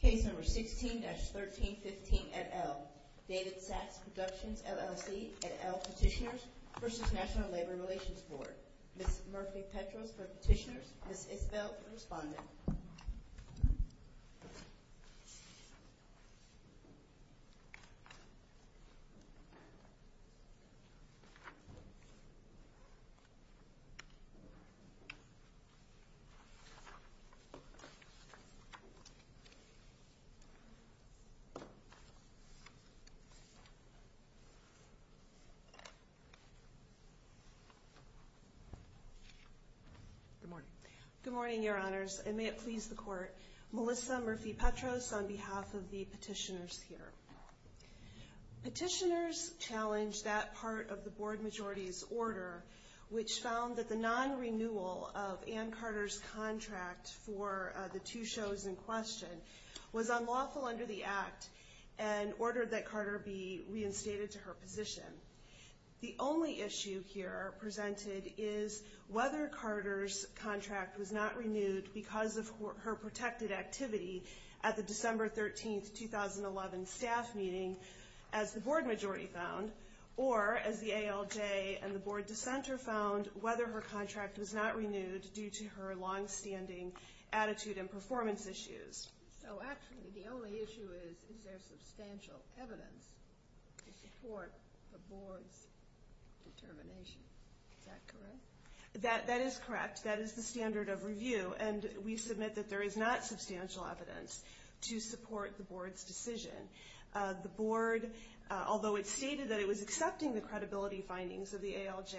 Case number 16-1315 et al. David Saxe Productions, LLC et al. Petitioners v. National Labor Relations Board. Ms. Murphy Petros for Petitioners, Ms. Isbell for Respondent. Good morning. Good morning, Your Honors. And may it please the Court, Melissa Murphy Petros on behalf of the petitioners here. Petitioners challenged that part of the Board Majority's order, which found that the non-respondent petitioners, the non-renewal of Ann Carter's contract for the two shows in question, was unlawful under the Act and ordered that Carter be reinstated to her position. The only issue here presented is whether Carter's contract was not renewed because of her protected activity at the December 13, 2011 staff meeting, as the Board Majority found, or as the ALJ and the Board Dissenter found, whether her contract was not renewed due to her longstanding attitude and performance issues. So actually, the only issue is, is there substantial evidence to support the Board's determination. Is that correct? That is correct. That is the standard of review. And we submit that there is not substantial evidence to support the Board's decision. The Board, although it stated that it was accepting the credibility findings of the ALJ,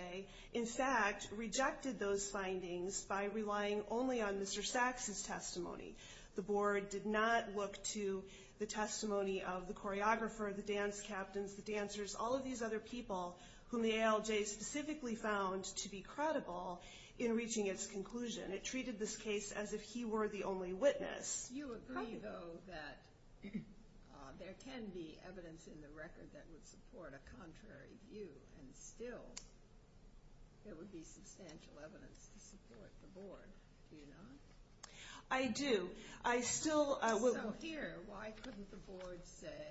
in fact, rejected those findings by relying only on Mr. Saxe's testimony. The Board did not look to the testimony of the choreographer, the dance captains, the dancers, all of these other people whom the ALJ specifically found to be corrupt. And it was not credible in reaching its conclusion. It treated this case as if he were the only witness. You agree though that there can be evidence in the record that would support a contrary view and still there would be substantial evidence to support the Board. Do you not? I do. I still... So here, why couldn't the Board say,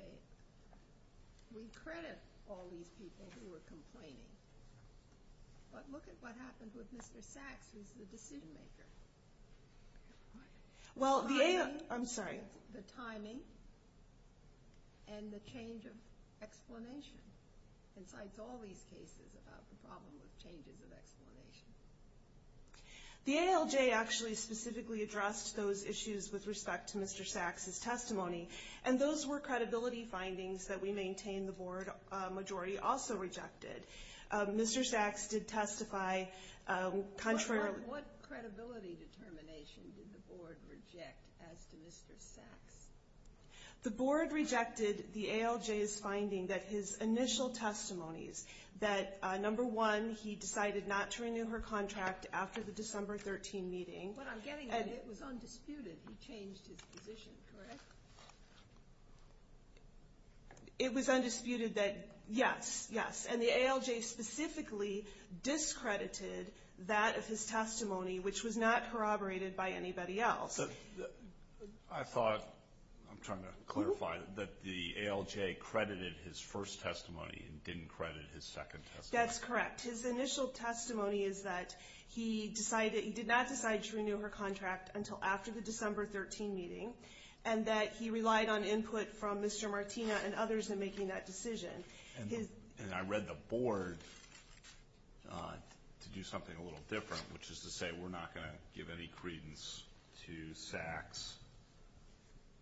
we credit all these people who were complaining, but look at what happened with Mr. Saxe, who's the decision maker. Well, the ALJ... The timing. I'm sorry. The timing and the change of explanation. And so it's all these cases about the problem of changes of explanation. The ALJ actually specifically addressed those issues with respect to Mr. Saxe's testimony. And those were credibility findings that we maintain the Board majority also rejected. Mr. Saxe did testify contrary... What credibility determination did the Board reject as to Mr. Saxe? The Board rejected the ALJ's finding that his initial testimonies, that number one, he decided not to renew her contract after the December 13 meeting. What I'm getting at, it was undisputed. He changed his position, correct? It was undisputed that, yes, yes. And the ALJ specifically discredited that of his testimony, which was not corroborated by anybody else. I thought, I'm trying to clarify, that the ALJ credited his first testimony and didn't credit his second testimony. That's correct. His initial testimony is that he did not decide to renew her contract until after the December 13 meeting, and that he relied on input from Mr. Martina and others in making that decision. And I read the Board to do something a little different, which is to say we're not going to give any credence to Saxe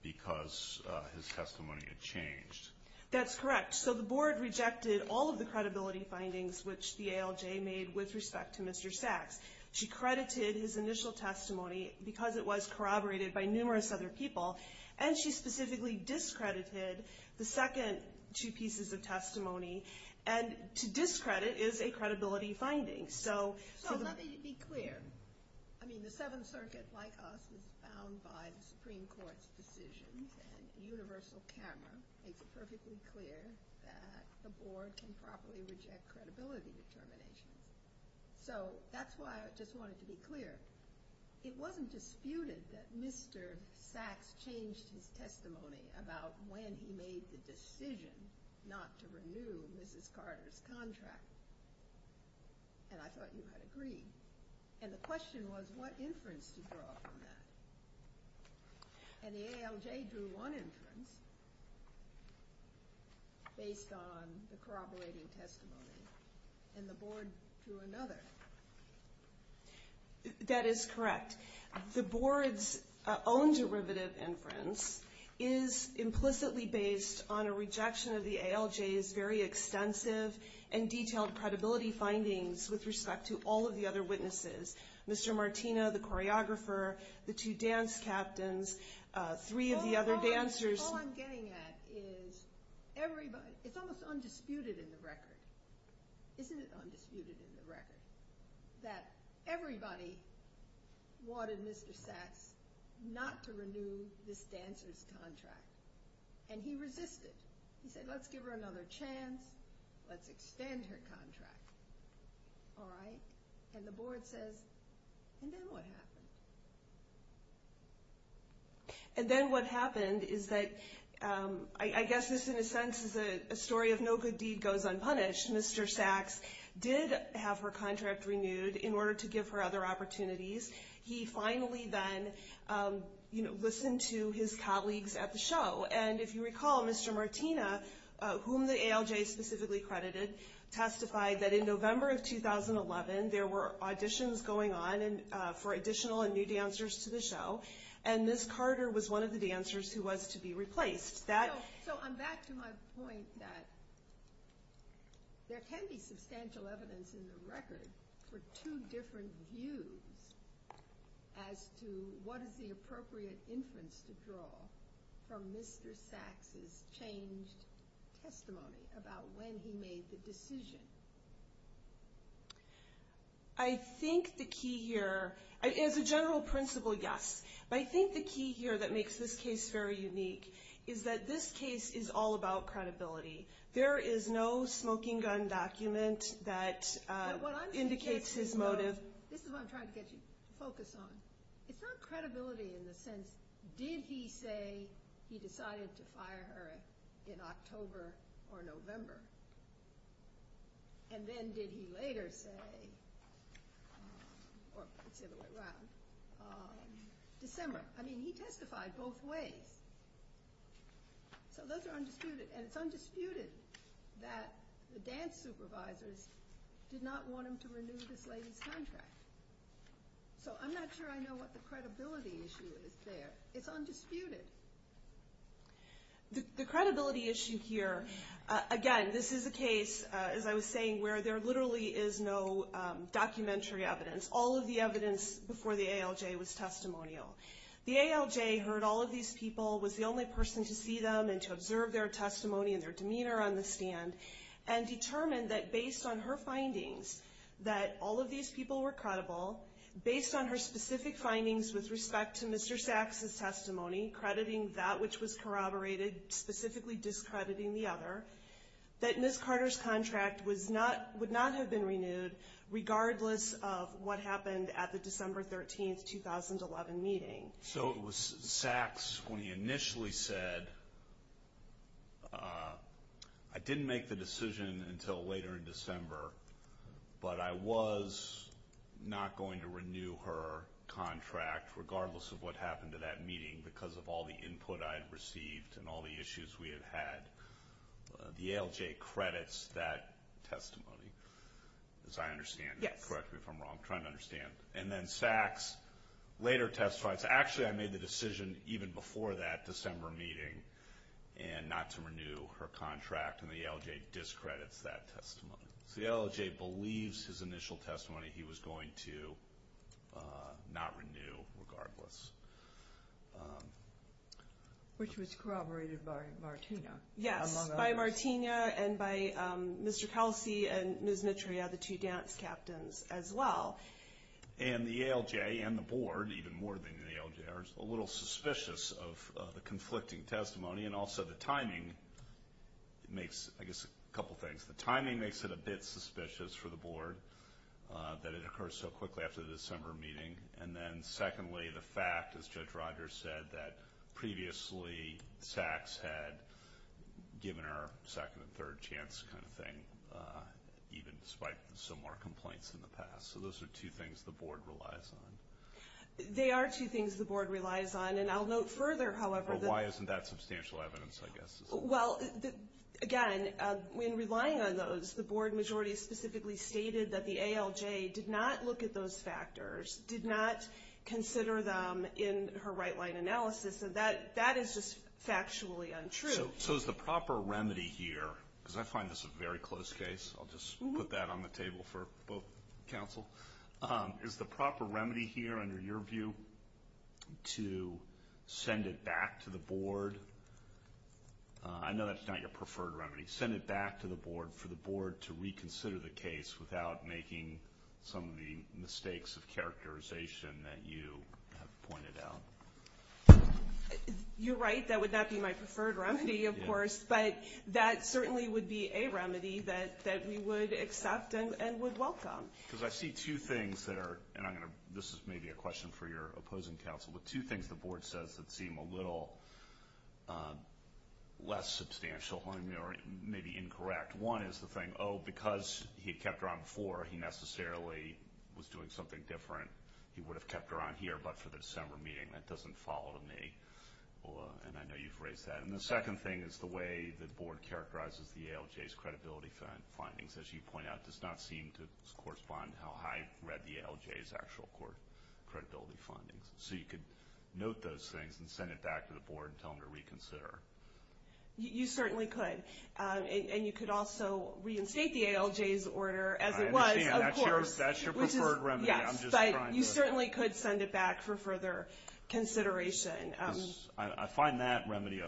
because his testimony had changed. That's correct. So the Board rejected all of the credibility findings which the ALJ made with respect to Mr. Saxe. She credited his initial testimony because it was corroborated by numerous other people, and she specifically discredited the second two pieces of testimony. And to discredit is a credibility finding. So let me be clear. I mean, the Seventh Circuit, like us, is bound by the Supreme Court's decisions, and the universal camera makes it perfectly clear that the Board can properly reject credibility determination. So that's why I just wanted to be clear. It wasn't disputed that Mr. Saxe changed his testimony about when he made the decision not to renew Mrs. Carter's contract, and I thought you had agreed. And the question was what inference to draw from that. And the ALJ drew one inference based on the corroborating testimony, and the Board drew another. That is correct. The Board's own derivative inference is implicitly based on a rejection of the ALJ's very extensive and detailed credibility findings with respect to all of the other witnesses. Mr. Martino, the choreographer, the two dance captains, three of the other dancers. All I'm getting at is everybody, it's almost undisputed in the record, isn't it undisputed in the record, that everybody wanted Mr. Saxe not to renew this dancer's contract, and he resisted. He said, let's give her another chance, let's extend her contract. All right? And the Board says, and then what happened? And then what happened is that, I guess this in a sense is a story of no good deed goes unpunished. Mr. Saxe did have her contract renewed in order to give her other opportunities. He finally then listened to his colleagues at the show. And if you recall, Mr. Martino, whom the ALJ specifically credited, testified that in November of 2011, there were auditions going on for additional and new dancers to the show, and Ms. Carter was one of the dancers who was to be replaced. So I'm back to my point that there can be substantial evidence in the record for two different views as to what is the appropriate inference to draw from Mr. Saxe's changed testimony about when he made the decision. I think the key here, as a general principle, yes. But I think the key here that makes this case very unique is that this case is all about credibility. There is no smoking gun document that indicates his motive. This is what I'm trying to get you to focus on. It's not credibility in the sense, did he say he decided to fire her in October or November? And then did he later say, or let's say it went around, December? I mean, he testified both ways. So those are undisputed. And it's undisputed that the dance supervisors did not want him to renew this lady's contract. So I'm not sure I know what the credibility issue is there. It's undisputed. The credibility issue here, again, this is a case, as I was saying, where there literally is no documentary evidence. All of the evidence before the ALJ was testimonial. The ALJ heard all of these people, was the only person to see them and to observe their testimony and their demeanor on the stand, and determined that based on her findings, that all of these people were credible, based on her specific findings with respect to Mr. Sachs' testimony, crediting that which was corroborated, specifically discrediting the other, that Ms. Carter's contract would not have been renewed, regardless of what happened at the December 13, 2011 meeting. So it was Sachs when he initially said, I didn't make the decision until later in December, but I was not going to renew her contract, regardless of what happened at that meeting, because of all the input I had received and all the issues we had had. The ALJ credits that testimony, as I understand. Correct me if I'm wrong. I'm trying to understand. And then Sachs later testifies, actually I made the decision even before that December meeting, and not to renew her contract, and the ALJ discredits that testimony. So the ALJ believes his initial testimony he was going to not renew, regardless. Which was corroborated by Martina, among others. Yes, by Martina and by Mr. Kelsey and Ms. Mitrea, the two dance captains, as well. And the ALJ and the board, even more than the ALJ, are a little suspicious of the conflicting testimony, and also the timing makes, I guess, a couple things. The timing makes it a bit suspicious for the board, that it occurs so quickly after the December meeting. And then secondly, the fact, as Judge Rogers said, that previously Sachs had given her second and third chance kind of thing, even despite similar complaints in the past. So those are two things the board relies on. They are two things the board relies on, and I'll note further, however... Well, again, in relying on those, the board majority specifically stated that the ALJ did not look at those factors, did not consider them in her right-line analysis, and that is just factually untrue. So is the proper remedy here, because I find this a very close case, I'll just put that on the table for both counsel. Is the proper remedy here, under your view, to send it back to the board? I know that's not your preferred remedy. Send it back to the board for the board to reconsider the case without making some of the mistakes of characterization that you have pointed out. You're right, that would not be my preferred remedy, of course, but that certainly would be a remedy that we would accept and would welcome. Because I see two things that are, and this is maybe a question for your opposing counsel, but two things the board says that seem a little less substantial, maybe incorrect. One is the thing, oh, because he kept her on before, he necessarily was doing something different. He would have kept her on here, but for the December meeting. That doesn't follow to me, and I know you've raised that. And the second thing is the way the board characterizes the ALJ's credibility findings, as you point out, does not seem to correspond to how high read the ALJ's actual credibility findings. So you could note those things and send it back to the board and tell them to reconsider. You certainly could, and you could also reinstate the ALJ's order as it was, of course. I understand, that's your preferred remedy. Yes, but you certainly could send it back for further consideration. I find that remedy,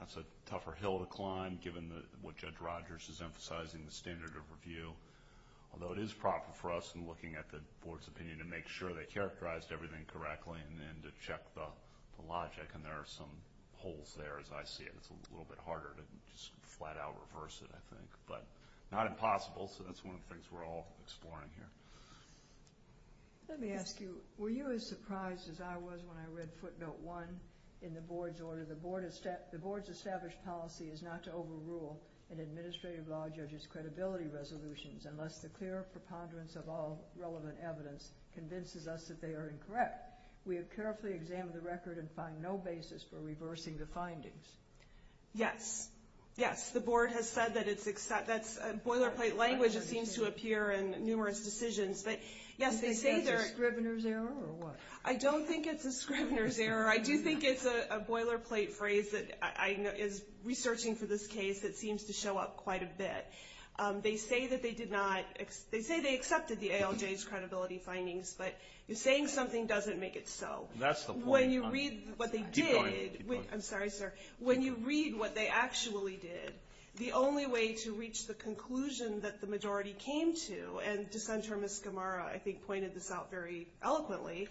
that's a tougher hill to climb, given what Judge Rogers is emphasizing, the standard of review. Although it is proper for us in looking at the board's opinion to make sure they characterized everything correctly and to check the logic. And there are some holes there, as I see it. It's a little bit harder to just flat out reverse it, I think. But not impossible, so that's one of the things we're all exploring here. Let me ask you, were you as surprised as I was when I read footnote one in the board's order? The board's established policy is not to overrule an administrative law judge's credibility resolutions unless the clear preponderance of all relevant evidence convinces us that they are incorrect. We have carefully examined the record and find no basis for reversing the findings. Yes, yes, the board has said that it's, that's boilerplate language that seems to appear in numerous decisions. But yes, they say they're. Do you think that's a Scrivener's error or what? I don't think it's a Scrivener's error. I do think it's a boilerplate phrase that I, is researching for this case that seems to show up quite a bit. They say that they did not, they say they accepted the ALJ's credibility findings, but saying something doesn't make it so. That's the point. When you read what they did. Keep going. I'm sorry, sir. When you read what they actually did, the only way to reach the conclusion that the majority came to, and dissenter Ms. Gamara I think pointed this out very eloquently,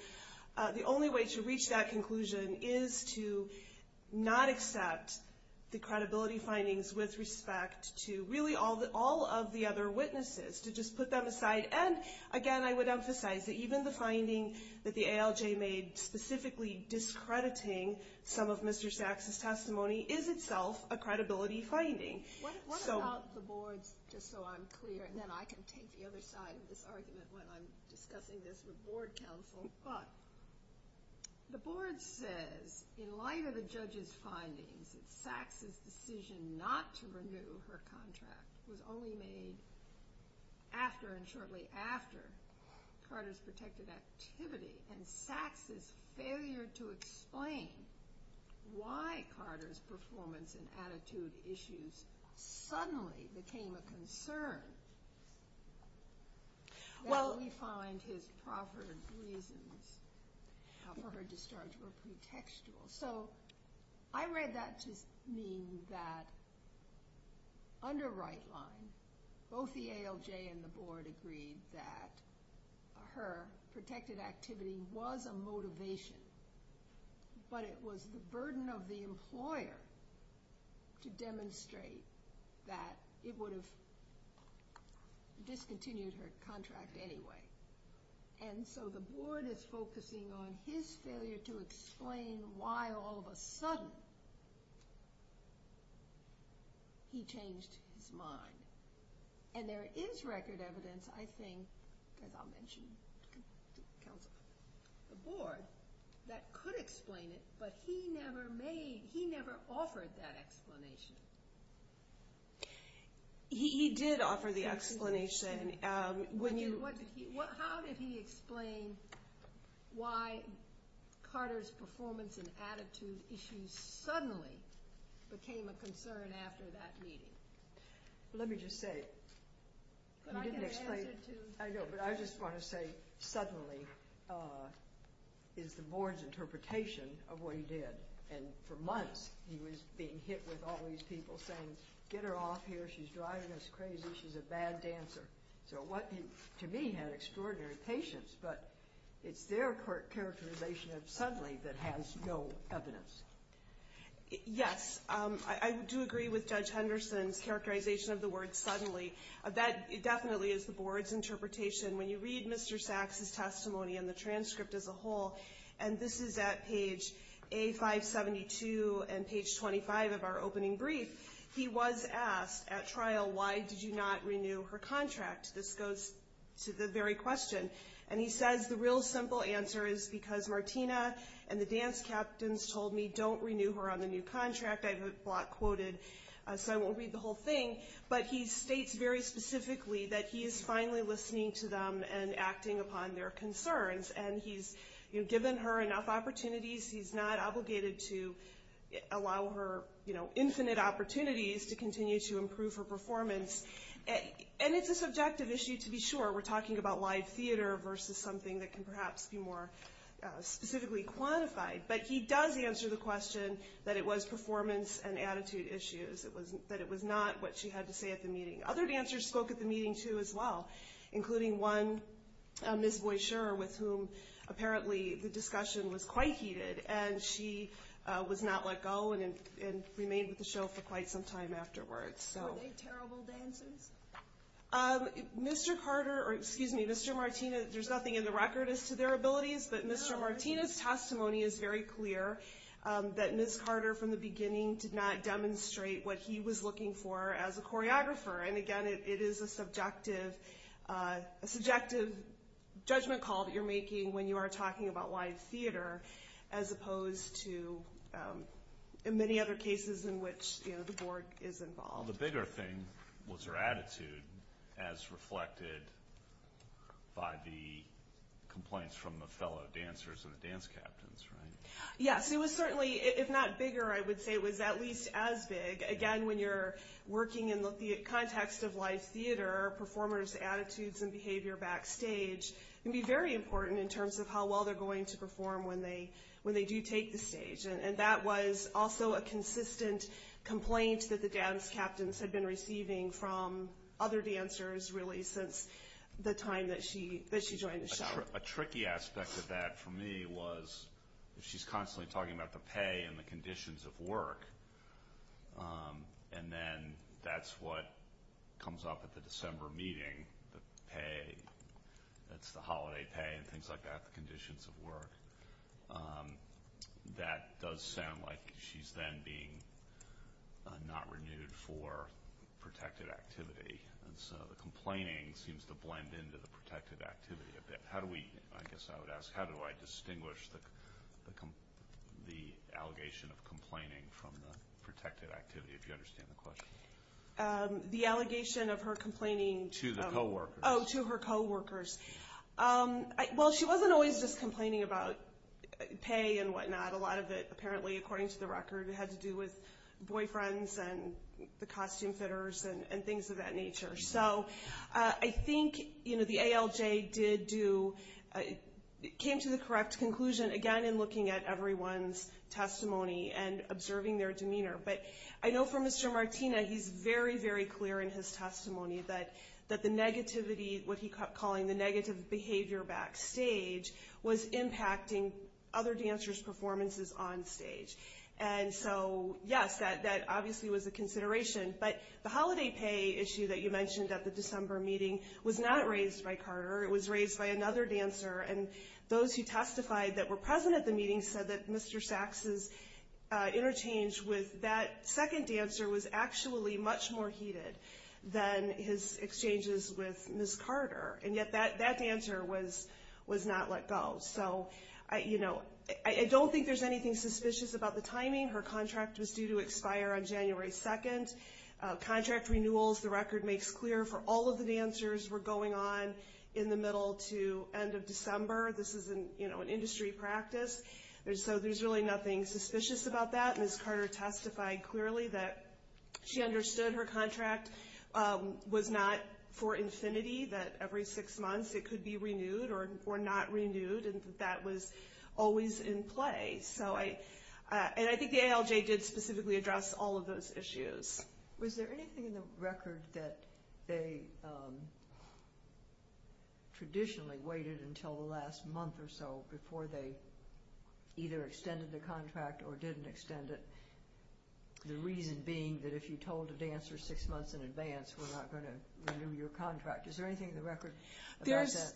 the only way to reach that conclusion is to not accept the credibility findings with respect to really all of the other witnesses, to just put them aside. And again, I would emphasize that even the finding that the ALJ made specifically discrediting some of Mr. Sachs' testimony is itself a credibility finding. What about the boards, just so I'm clear, and then I can take the other side of this argument when I'm discussing this with board counsel. The board says, in light of the judge's findings, that Sachs' decision not to renew her contract was only made after and shortly after Carter's protected activity, and Sachs' failure to explain why Carter's performance and attitude issues suddenly became a concern. That we find his proper reasons for her discharge were pretextual. So, I read that to mean that under right line, both the ALJ and the board agreed that her protected activity was a motivation, but it was the burden of the employer to demonstrate that it would have discontinued her contract anyway. And so the board is focusing on his failure to explain why all of a sudden he changed his mind. And there is record evidence, I think, as I'll mention to counsel, the board, that could explain it, but he never made, he never offered that explanation. He did offer the explanation. How did he explain why Carter's performance and attitude issues suddenly became a concern after that meeting? Let me just say, I just want to say, suddenly is the board's interpretation of what he did. And for months, he was being hit with all these people saying, get her off here, she's driving us crazy, she's a bad dancer. So what, to me, had extraordinary patience, but it's their characterization of suddenly that has no evidence. Yes, I do agree with Judge Henderson's characterization of the word suddenly. When you read Mr. Sachs' testimony and the transcript as a whole, and this is at page A572 and page 25 of our opening brief, he was asked at trial, why did you not renew her contract? This goes to the very question. And he says the real simple answer is because Martina and the dance captains told me don't renew her on the new contract. I have a block quoted, so I won't read the whole thing. But he states very specifically that he is finally listening to them and acting upon their concerns. And he's given her enough opportunities. He's not obligated to allow her infinite opportunities to continue to improve her performance. And it's a subjective issue, to be sure. We're talking about live theater versus something that can perhaps be more specifically quantified. But he does answer the question that it was performance and attitude issues, that it was not what she had to say at the meeting. Other dancers spoke at the meeting, too, as well, including one, Ms. Boisheur, with whom apparently the discussion was quite heated. And she was not let go and remained with the show for quite some time afterwards. Were they terrible dancers? Mr. Carter, or excuse me, Mr. Martina, there's nothing in the record as to their abilities. But Mr. Martina's testimony is very clear that Ms. Carter, from the beginning, did not demonstrate what he was looking for as a choreographer. And, again, it is a subjective judgment call that you're making when you are talking about live theater as opposed to many other cases in which the board is involved. Well, the bigger thing was her attitude, as reflected by the complaints from the fellow dancers and the dance captains, right? Yes, it was certainly, if not bigger, I would say it was at least as big. Again, when you're working in the context of live theater, performers' attitudes and behavior backstage can be very important in terms of how well they're going to perform when they do take the stage. And that was also a consistent complaint that the dance captains had been receiving from other dancers, really, since the time that she joined the show. A tricky aspect of that, for me, was she's constantly talking about the pay and the conditions of work. And then that's what comes up at the December meeting, the pay. It's the holiday pay and things like that, the conditions of work. That does sound like she's then being not renewed for protected activity. And so the complaining seems to blend into the protected activity a bit. How do we, I guess I would ask, how do I distinguish the allegation of complaining from the protected activity, if you understand the question? The allegation of her complaining to her co-workers. Well, she wasn't always just complaining about pay and whatnot. A lot of it, apparently, according to the record, had to do with boyfriends and the costume fitters and things of that nature. So I think the ALJ came to the correct conclusion, again, in looking at everyone's testimony and observing their demeanor. But I know for Mr. Martina, he's very, very clear in his testimony that the negativity, what he kept calling the negative behavior backstage, was impacting other dancers' performances on stage. And so, yes, that obviously was a consideration. But the holiday pay issue that you mentioned at the December meeting was not raised by Carter. It was raised by another dancer, and those who testified that were present at the meeting said that Mr. Saxe's interchange with that second dancer was actually much more heated than his exchanges with Ms. Carter, and yet that dancer was not let go. So I don't think there's anything suspicious about the timing. Her contract was due to expire on January 2nd. Contract renewals, the record makes clear, for all of the dancers were going on in the middle to end of December. This is an industry practice, so there's really nothing suspicious about that. Ms. Carter testified clearly that she understood her contract was not for infinity, that every six months it could be renewed or not renewed, and that that was always in play. And I think the ALJ did specifically address all of those issues. Was there anything in the record that they traditionally waited until the last month or so before they either extended the contract or didn't extend it, the reason being that if you told a dancer six months in advance we're not going to renew your contract? Is there anything in the record about that?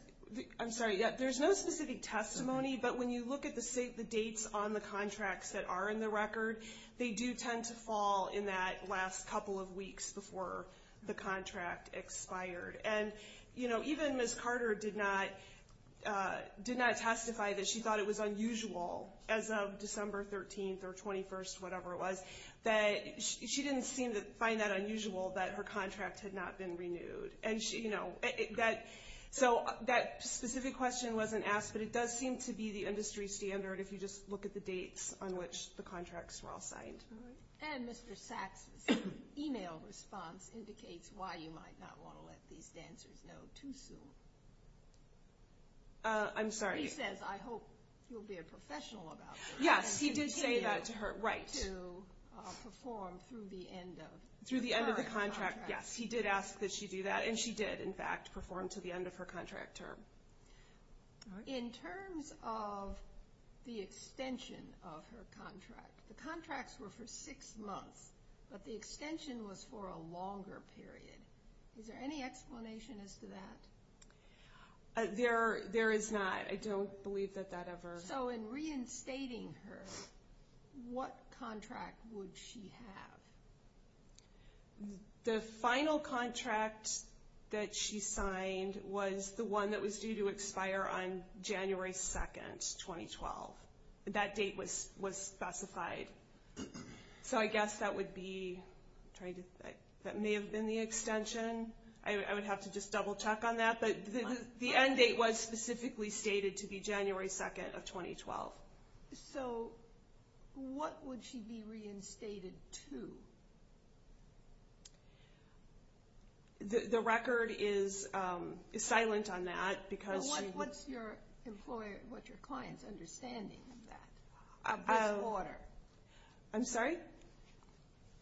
I'm sorry, there's no specific testimony, but when you look at the dates on the contracts that are in the record, they do tend to fall in that last couple of weeks before the contract expired. And even Ms. Carter did not testify that she thought it was unusual as of December 13th or 21st, whatever it was, that she didn't seem to find that unusual that her contract had not been renewed. So that specific question wasn't asked, but it does seem to be the industry standard if you just look at the dates on which the contracts were all signed. And Mr. Sachs' email response indicates why you might not want to let these dancers know too soon. I'm sorry. He says, I hope you'll be a professional about this. Yes, he did say that to her, right. And continue to perform through the end of the current contract. Yes, he did ask that she do that, and she did, in fact, perform to the end of her contract term. In terms of the extension of her contract, the contracts were for six months, but the extension was for a longer period. Is there any explanation as to that? There is not. I don't believe that that ever – So in reinstating her, what contract would she have? The final contract that she signed was the one that was due to expire on January 2nd, 2012. That date was specified. So I guess that would be – that may have been the extension. I would have to just double-check on that. But the end date was specifically stated to be January 2nd of 2012. So what would she be reinstated to? The record is silent on that because she – What's your client's understanding of that, of this order? I'm sorry?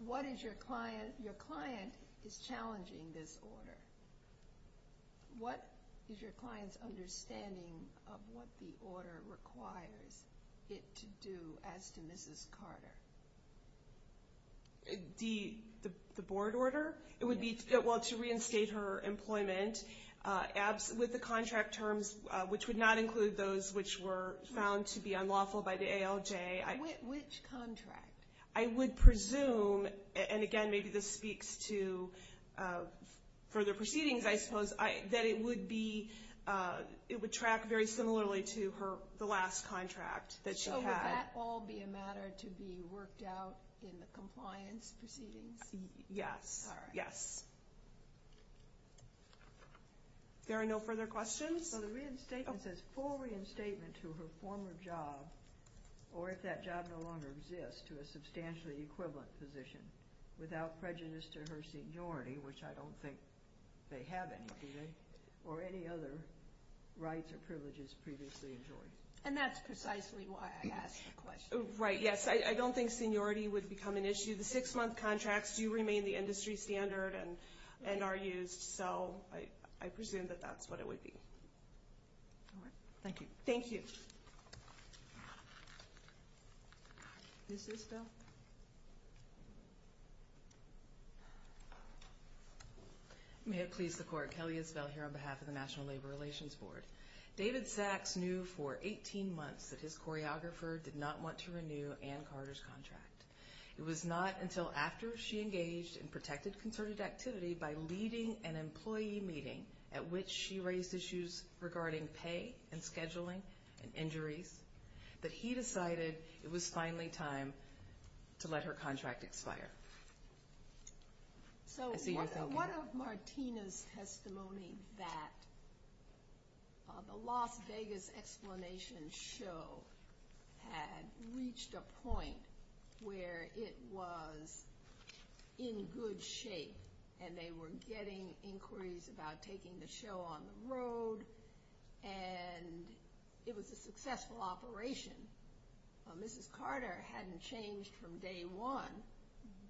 What is your client – your client is challenging this order. What is your client's understanding of what the order requires it to do as to Mrs. Carter? The board order? It would be – well, to reinstate her employment with the contract terms, which would not include those which were found to be unlawful by the ALJ. Which contract? I would presume – and again, maybe this speaks to further proceedings, I suppose – that it would be – it would track very similarly to her – the last contract that she had. So would that all be a matter to be worked out in the compliance proceedings? Yes. All right. Yes. There are no further questions? So the reinstatement says, full reinstatement to her former job or, if that job no longer exists, to a substantially equivalent position without prejudice to her seniority, which I don't think they have anyway, or any other rights or privileges previously enjoined. And that's precisely why I asked the question. Right, yes. I don't think seniority would become an issue. The six-month contracts do remain the industry standard and are used, so I presume that that's what it would be. All right. Thank you. Thank you. Mrs. Isbell? May it please the Court, Kelly Isbell here on behalf of the National Labor Relations Board. David Sachs knew for 18 months that his choreographer did not want to renew Ann Carter's contract. It was not until after she engaged in protected concerted activity by leading an employee meeting at which she raised issues regarding pay and scheduling and injuries that he decided it was finally time to let her contract expire. So one of Martina's testimony that the Las Vegas Explanation Show had reached a point where it was in good shape and they were getting inquiries about taking the show on the road and it was a successful operation. Mrs. Carter hadn't changed from day one,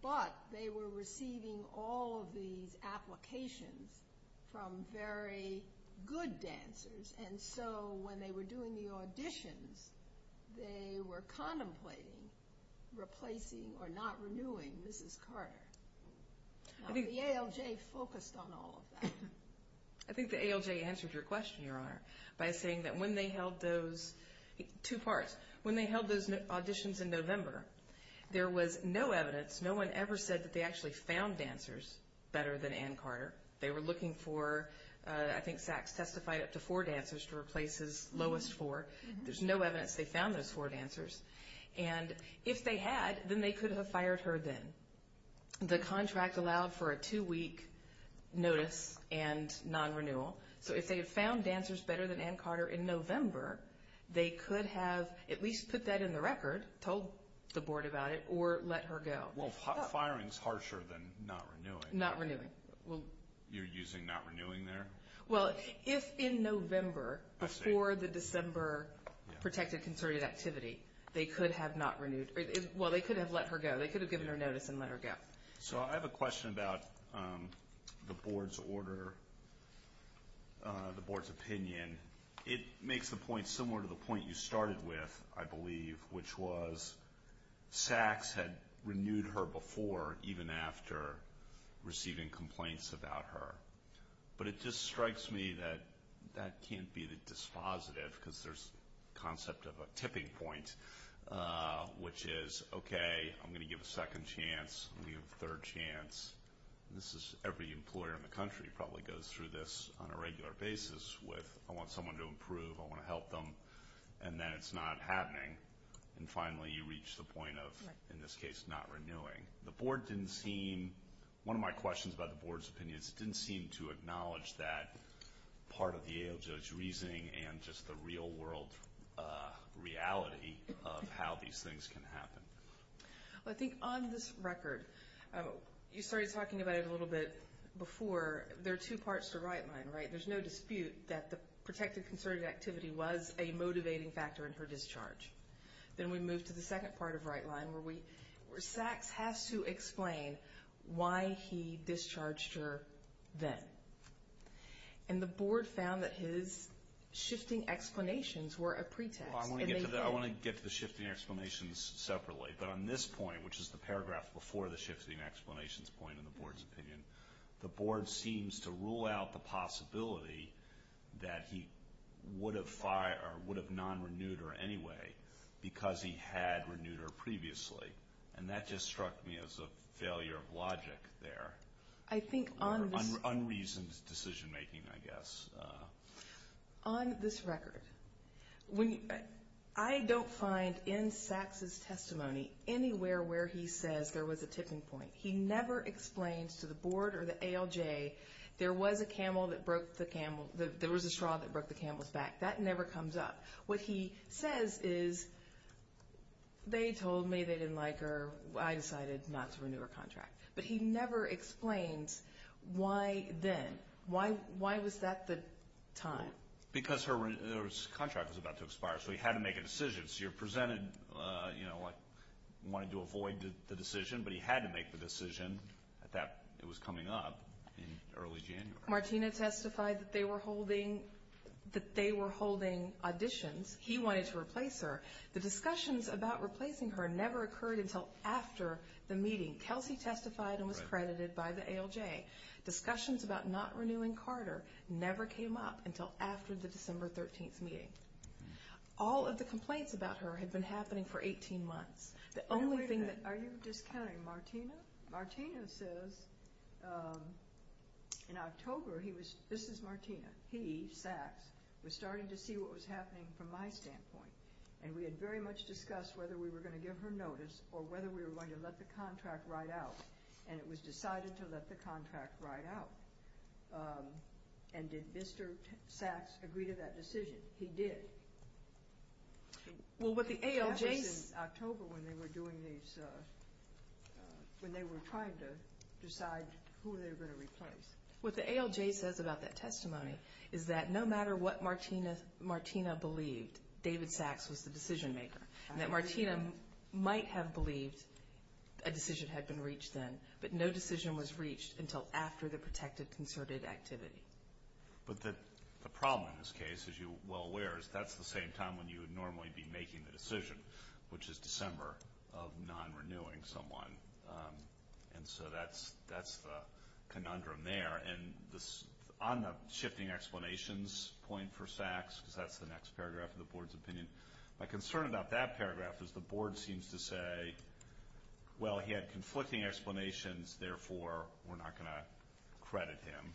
but they were receiving all of these applications from very good dancers and so when they were doing the auditions, they were contemplating replacing or not renewing Mrs. Carter. The ALJ focused on all of that. I think the ALJ answered your question, Your Honor, by saying that when they held those auditions in November, there was no evidence, no one ever said that they actually found dancers better than Ann Carter. They were looking for, I think Sachs testified, up to four dancers to replace his lowest four. There's no evidence they found those four dancers. And if they had, then they could have fired her then. The contract allowed for a two-week notice and non-renewal. So if they had found dancers better than Ann Carter in November, they could have at least put that in the record, told the board about it, or let her go. Well, firing is harsher than not renewing. Not renewing. You're using not renewing there? Well, if in November, before the December protected concerted activity, they could have not renewed. Well, they could have let her go. They could have given her notice and let her go. So I have a question about the board's order, the board's opinion. It makes the point similar to the point you started with, I believe, which was Sachs had renewed her before, even after receiving complaints about her. But it just strikes me that that can't be the dispositive, because there's the concept of a tipping point, which is, okay, I'm going to give a second chance. I'm going to give a third chance. This is every employer in the country probably goes through this on a regular basis with, I want someone to improve, I want to help them, and then it's not happening. And finally, you reach the point of, in this case, not renewing. The board didn't seem, one of my questions about the board's opinion, it didn't seem to acknowledge that part of the AOJ's reasoning and just the real-world reality of how these things can happen. I think on this record, you started talking about it a little bit before, there are two parts to Rightline, right? There's no dispute that the protected concerted activity was a motivating factor in her discharge. Then we move to the second part of Rightline, where Sachs has to explain why he discharged her then. And the board found that his shifting explanations were a pretext. Well, I want to get to the shifting explanations separately, but on this point, which is the paragraph before the shifting explanations point in the board's opinion, the board seems to rule out the possibility that he would have non-renewed her anyway because he had renewed her previously. And that just struck me as a failure of logic there, or unreasoned decision-making, I guess. On this record, I don't find in Sachs's testimony anywhere where he says there was a tipping point. He never explains to the board or the AOJ there was a straw that broke the camel's back. That never comes up. What he says is, they told me they didn't like her. I decided not to renew her contract. But he never explains why then. Why was that the time? Because her contract was about to expire, so he had to make a decision. So you're presented wanting to avoid the decision, but he had to make the decision that it was coming up in early January. Martina testified that they were holding auditions. He wanted to replace her. The discussions about replacing her never occurred until after the meeting. Kelsey testified and was credited by the AOJ. Discussions about not renewing Carter never came up until after the December 13th meeting. All of the complaints about her had been happening for 18 months. The only thing that... Are you discounting Martina? Martina says, in October, this is Martina. He, Sachs, was starting to see what was happening from my standpoint. And we had very much discussed whether we were going to give her notice or whether we were going to let the contract ride out. And it was decided to let the contract ride out. And did Mr. Sachs agree to that decision? He did. That was in October when they were doing these... when they were trying to decide who they were going to replace. What the AOJ says about that testimony is that no matter what Martina believed, David Sachs was the decision maker. And that Martina might have believed a decision had been reached then, but no decision was reached until after the protected concerted activity. But the problem in this case, as you're well aware, is that's the same time when you would normally be making the decision, which is December, of non-renewing someone. And so that's the conundrum there. And on the shifting explanations point for Sachs, because that's the next paragraph of the Board's opinion, my concern about that paragraph is the Board seems to say, well, he had conflicting explanations, therefore we're not going to credit him.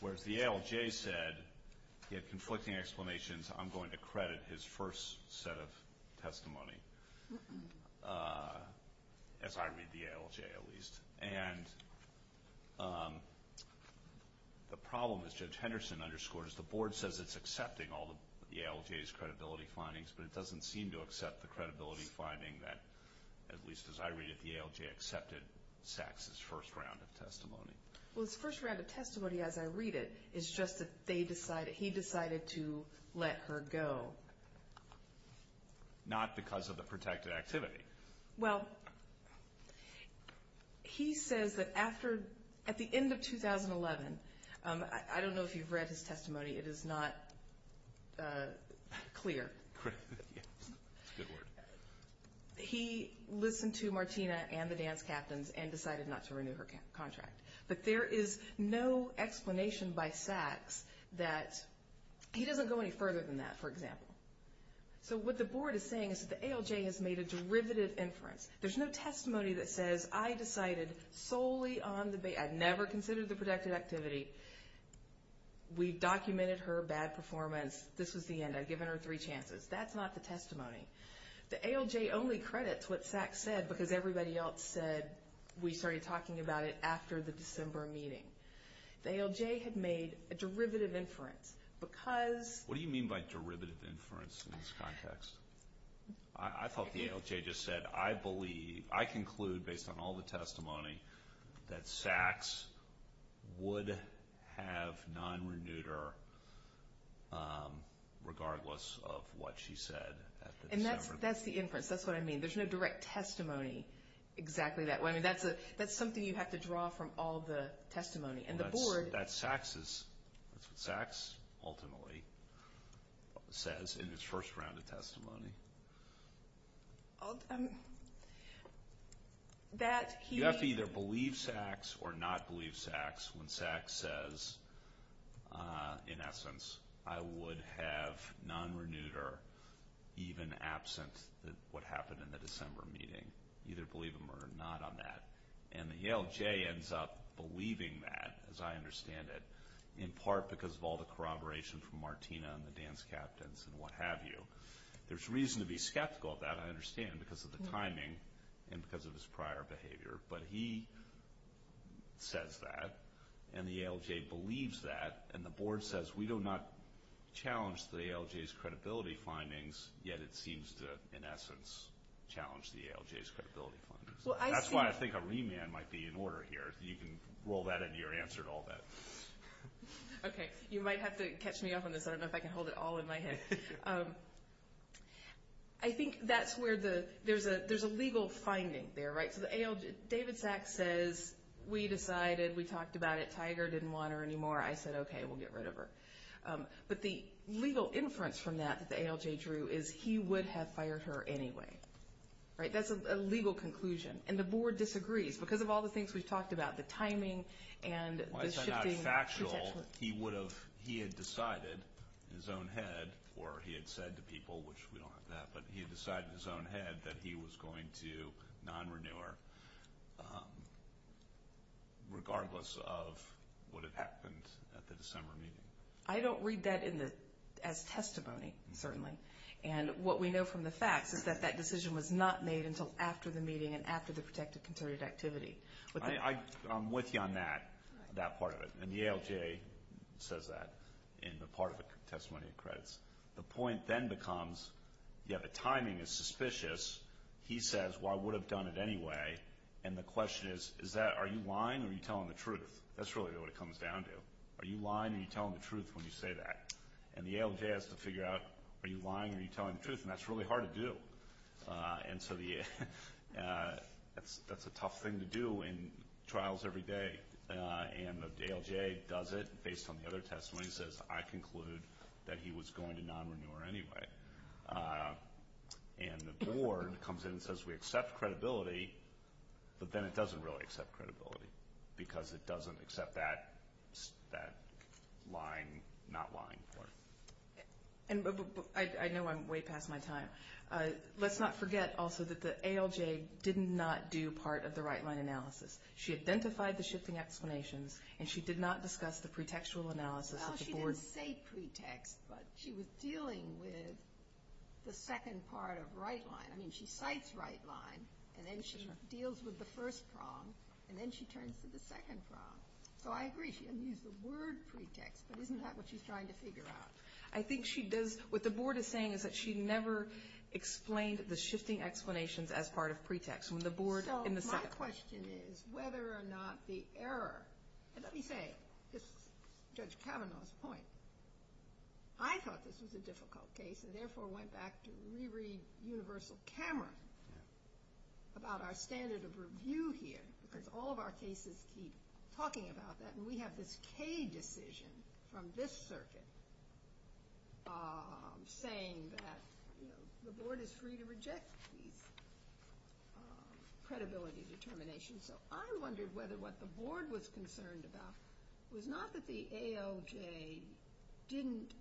Whereas the AOJ said he had conflicting explanations, I'm going to credit his first set of testimony. As I read the AOJ, at least. And the problem, as Judge Henderson underscored, is the Board says it's accepting all the AOJ's credibility findings, but it doesn't seem to accept the credibility finding that, at least as I read it, the AOJ accepted Sachs' first round of testimony. Well, his first round of testimony, as I read it, is just that he decided to let her go. Not because of the protected activity. Well, he says that at the end of 2011, I don't know if you've read his testimony, it is not clear. He listened to Martina and the dance captains and decided not to renew her contract. But there is no explanation by Sachs that, he doesn't go any further than that, for example. So what the Board is saying is that the AOJ has made a derivative inference. There's no testimony that says, I decided solely on the, I never considered the protected activity. We documented her bad performance. This was the end. I've given her three chances. That's not the testimony. The AOJ only credits what Sachs said, because everybody else said we started talking about it after the December meeting. The AOJ had made a derivative inference, because... What do you mean by derivative inference in this context? I thought the AOJ just said, I believe, based on all the testimony, that Sachs would have non-renewed her, regardless of what she said at the December meeting. And that's the inference. That's what I mean. There's no direct testimony exactly that way. That's something you have to draw from all the testimony. And the Board... That's what Sachs ultimately says in his first round of testimony. That he... You have to either believe Sachs or not believe Sachs when Sachs says, in essence, I would have non-renewed her, even absent what happened in the December meeting. Either believe him or not on that. And the AOJ ends up believing that, as I understand it, in part because of all the corroboration from Martina and the dance captains and what have you. There's reason to be skeptical of that, I understand, because of the timing and because of his prior behavior. But he says that, and the AOJ believes that, and the Board says we do not challenge the AOJ's credibility findings, yet it seems to, in essence, challenge the AOJ's credibility findings. That's why I think a remand might be in order here. You can roll that into your answer and all that. Okay. You might have to catch me off on this. I don't know if I can hold it all in my head. I think that's where there's a legal finding there. David Sachs says, we decided, we talked about it, Tiger didn't want her anymore. I said, okay, we'll get rid of her. But the legal inference from that that the AOJ drew is he would have fired her anyway. That's a legal conclusion, and the Board disagrees. Because of all the things we've talked about, the timing and the shifting... He would have, he had decided in his own head, or he had said to people, which we don't have that, but he had decided in his own head that he was going to non-renew her, regardless of what had happened at the December meeting. I don't read that as testimony, certainly. And what we know from the facts is that that decision was not made until after the meeting and after the Protective Concerted Activity. I'm with you on that part of it. And the AOJ says that in the part of the testimony of credits. The point then becomes, yeah, the timing is suspicious. He says, well, I would have done it anyway. And the question is, are you lying or are you telling the truth? That's really what it comes down to. Are you lying or are you telling the truth when you say that? And the AOJ has to figure out, are you lying or are you telling the truth? And that's really hard to do. And so that's a tough thing to do in trials every day. And the AOJ does it based on the other testimony and says, I conclude that he was going to non-renew her anyway. And the Board comes in and says we accept credibility, but then it doesn't really accept credibility because it doesn't accept that not lying part. I know I'm way past my time. Let's not forget also that the AOJ did not do part of the right-line analysis. She identified the shifting explanations, and she did not discuss the pre-textual analysis of the Board. Well, she didn't say pre-text, but she was dealing with the second part of right-line. I mean, she cites right-line, and then she deals with the first prong, and then she turns to the second prong. So I agree, she didn't use the word pre-text, but isn't that what she's trying to figure out? I think she does. What the Board is saying is that she never explained the shifting explanations as part of pre-text. So my question is whether or not the error, and let me say, this is Judge Kavanaugh's point, I thought this was a difficult case and therefore went back to reread Universal Camera about our standard of review here because all of our cases keep talking about that, and we have this K decision from this circuit saying that the Board is free to reject these. Credibility determination. So I wondered whether what the Board was concerned about was not that the AOJ didn't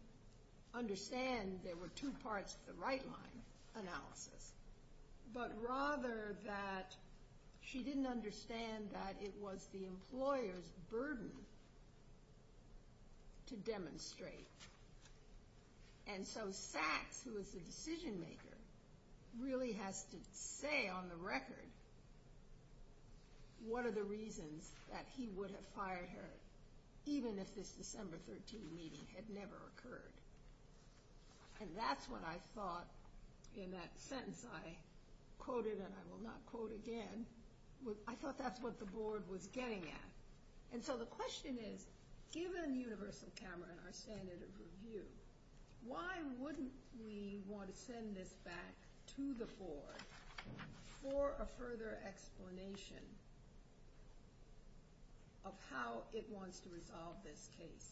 understand there were two parts to the right-line analysis, but rather that she didn't understand that it was the employer's burden to demonstrate. And so Sachs, who is the decision-maker, really has to say on the record what are the reasons that he would have fired her even if this December 13 meeting had never occurred. And that's what I thought in that sentence I quoted, and I will not quote again, I thought that's what the Board was getting at. And so the question is, given Universal Camera and our standard of review, why wouldn't we want to send this back to the Board for a further explanation of how it wants to resolve this case?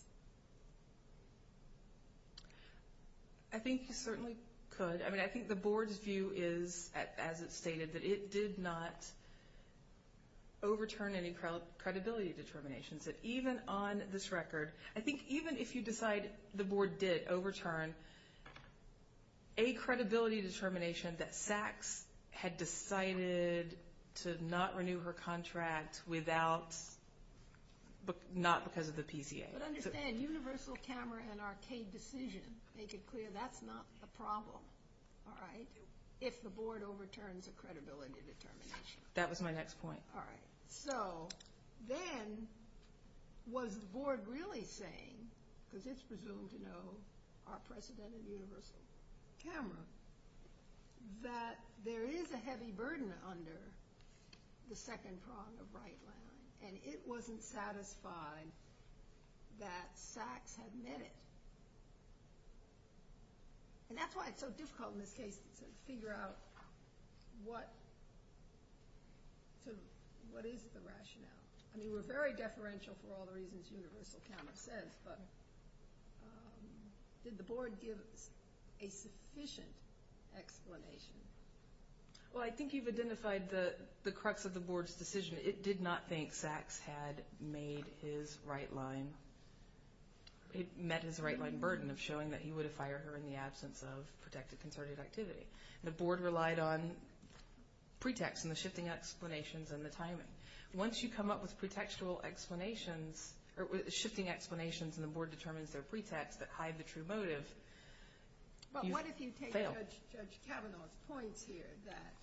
I think you certainly could. I mean, I think the Board's view is, as it stated, that it did not overturn any credibility determinations. That even on this record, I think even if you decide the Board did overturn a credibility determination that Sachs had decided to not renew her contract without, not because of the PCA. But understand, Universal Camera and our CAED decision make it clear that's not a problem, all right, if the Board overturns a credibility determination. That was my next point. All right. So then was the Board really saying, because it's presumed to know our precedent at Universal Camera, that there is a heavy burden under the second prong of Wright-Larratt, and it wasn't satisfied that Sachs had met it? And that's why it's so difficult in this case to figure out what is the rationale. I mean, we're very deferential for all the reasons Universal Camera says, but did the Board give a sufficient explanation? Well, I think you've identified the crux of the Board's decision. It did not think Sachs had made his right line, met his right line burden of showing that he would have fired her in the absence of protected concerted activity. The Board relied on pretext and the shifting explanations and the timing. Once you come up with pretextual explanations, or shifting explanations, and the Board determines their pretext that hide the true motive, you fail. But what if you take Judge Kavanaugh's points here, that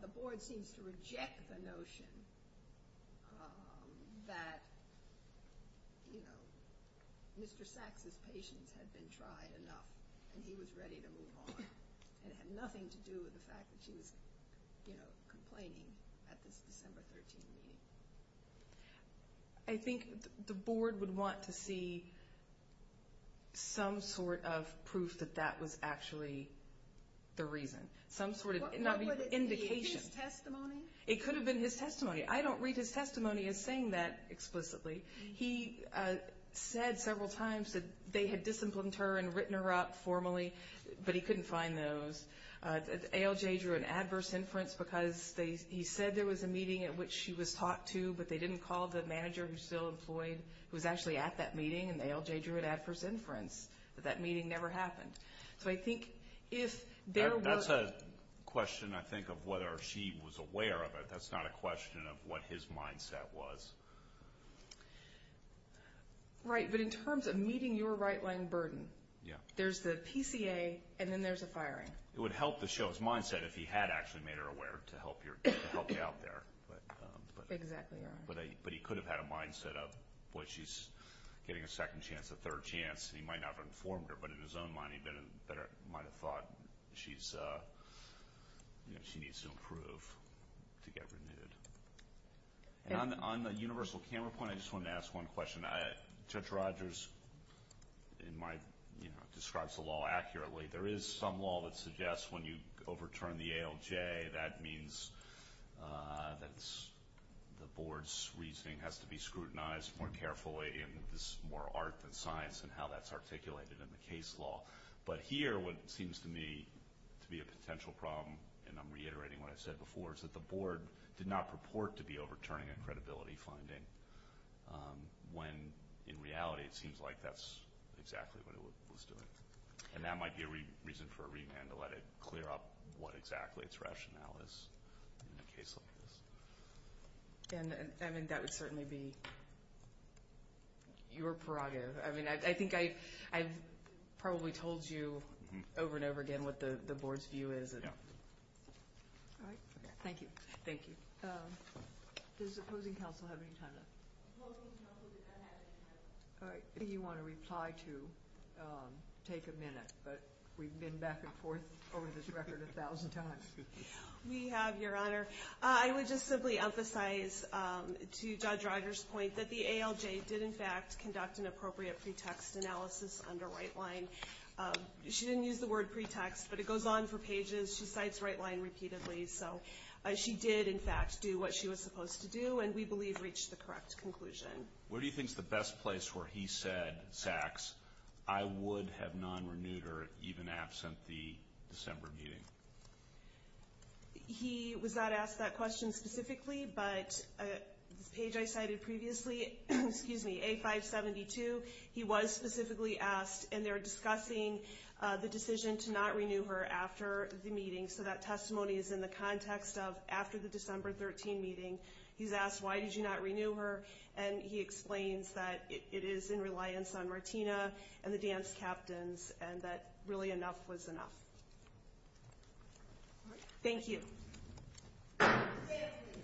the Board seems to reject the notion that, you know, Mr. Sachs's patience had been tried enough and he was ready to move on, and it had nothing to do with the fact that she was, you know, complaining at this December 13th meeting. I think the Board would want to see some sort of proof that that was actually the reason. Some sort of indication. What would it be? His testimony? It could have been his testimony. I don't read his testimony as saying that explicitly. He said several times that they had disciplined her and written her up formally, but he couldn't find those. ALJ drew an adverse inference because he said there was a meeting at which she was talked to, but they didn't call the manager who was still employed, who was actually at that meeting, and ALJ drew an adverse inference. But that meeting never happened. So I think if there was – That's a question, I think, of whether she was aware of it. That's not a question of what his mindset was. Right. But in terms of meeting your right-wing burden, there's the PCA, and then there's the firing. It would help to show his mindset if he had actually made her aware to help you out there. Exactly right. But he could have had a mindset of, boy, she's getting a second chance, a third chance, and he might not have informed her. But in his own mind, he might have thought she needs to improve to get renewed. On the universal camera point, I just wanted to ask one question. Judge Rogers describes the law accurately. There is some law that suggests when you overturn the ALJ, that means that the board's reasoning has to be scrutinized more carefully, and there's more art than science in how that's articulated in the case law. But here what seems to me to be a potential problem, and I'm reiterating what I said before, is that the board did not purport to be overturning a credibility finding when in reality it seems like that's exactly what it was doing. And that might be a reason for a remand to let it clear up what exactly its rationale is in a case like this. I mean, that would certainly be your prerogative. I mean, I think I've probably told you over and over again what the board's view is. All right. Thank you. Thank you. Does opposing counsel have any time left? Opposing counsel does not have any time left. If you want to reply to take a minute, but we've been back and forth over this record a thousand times. We have, Your Honor. I would just simply emphasize to Judge Rogers' point that the ALJ did, in fact, conduct an appropriate pretext analysis under white line. She didn't use the word pretext, but it goes on for pages. She cites white line repeatedly. So she did, in fact, do what she was supposed to do, and we believe reached the correct conclusion. Where do you think is the best place where he said, Saks, I would have non-renewed her even absent the December meeting? He was not asked that question specifically, but the page I cited previously, A572, he was specifically asked, and they're discussing the decision to not renew her after the meeting, so that testimony is in the context of after the December 13 meeting. He's asked, Why did you not renew her? And he explains that it is in reliance on Martina and the dance captains and that really enough was enough. Thank you.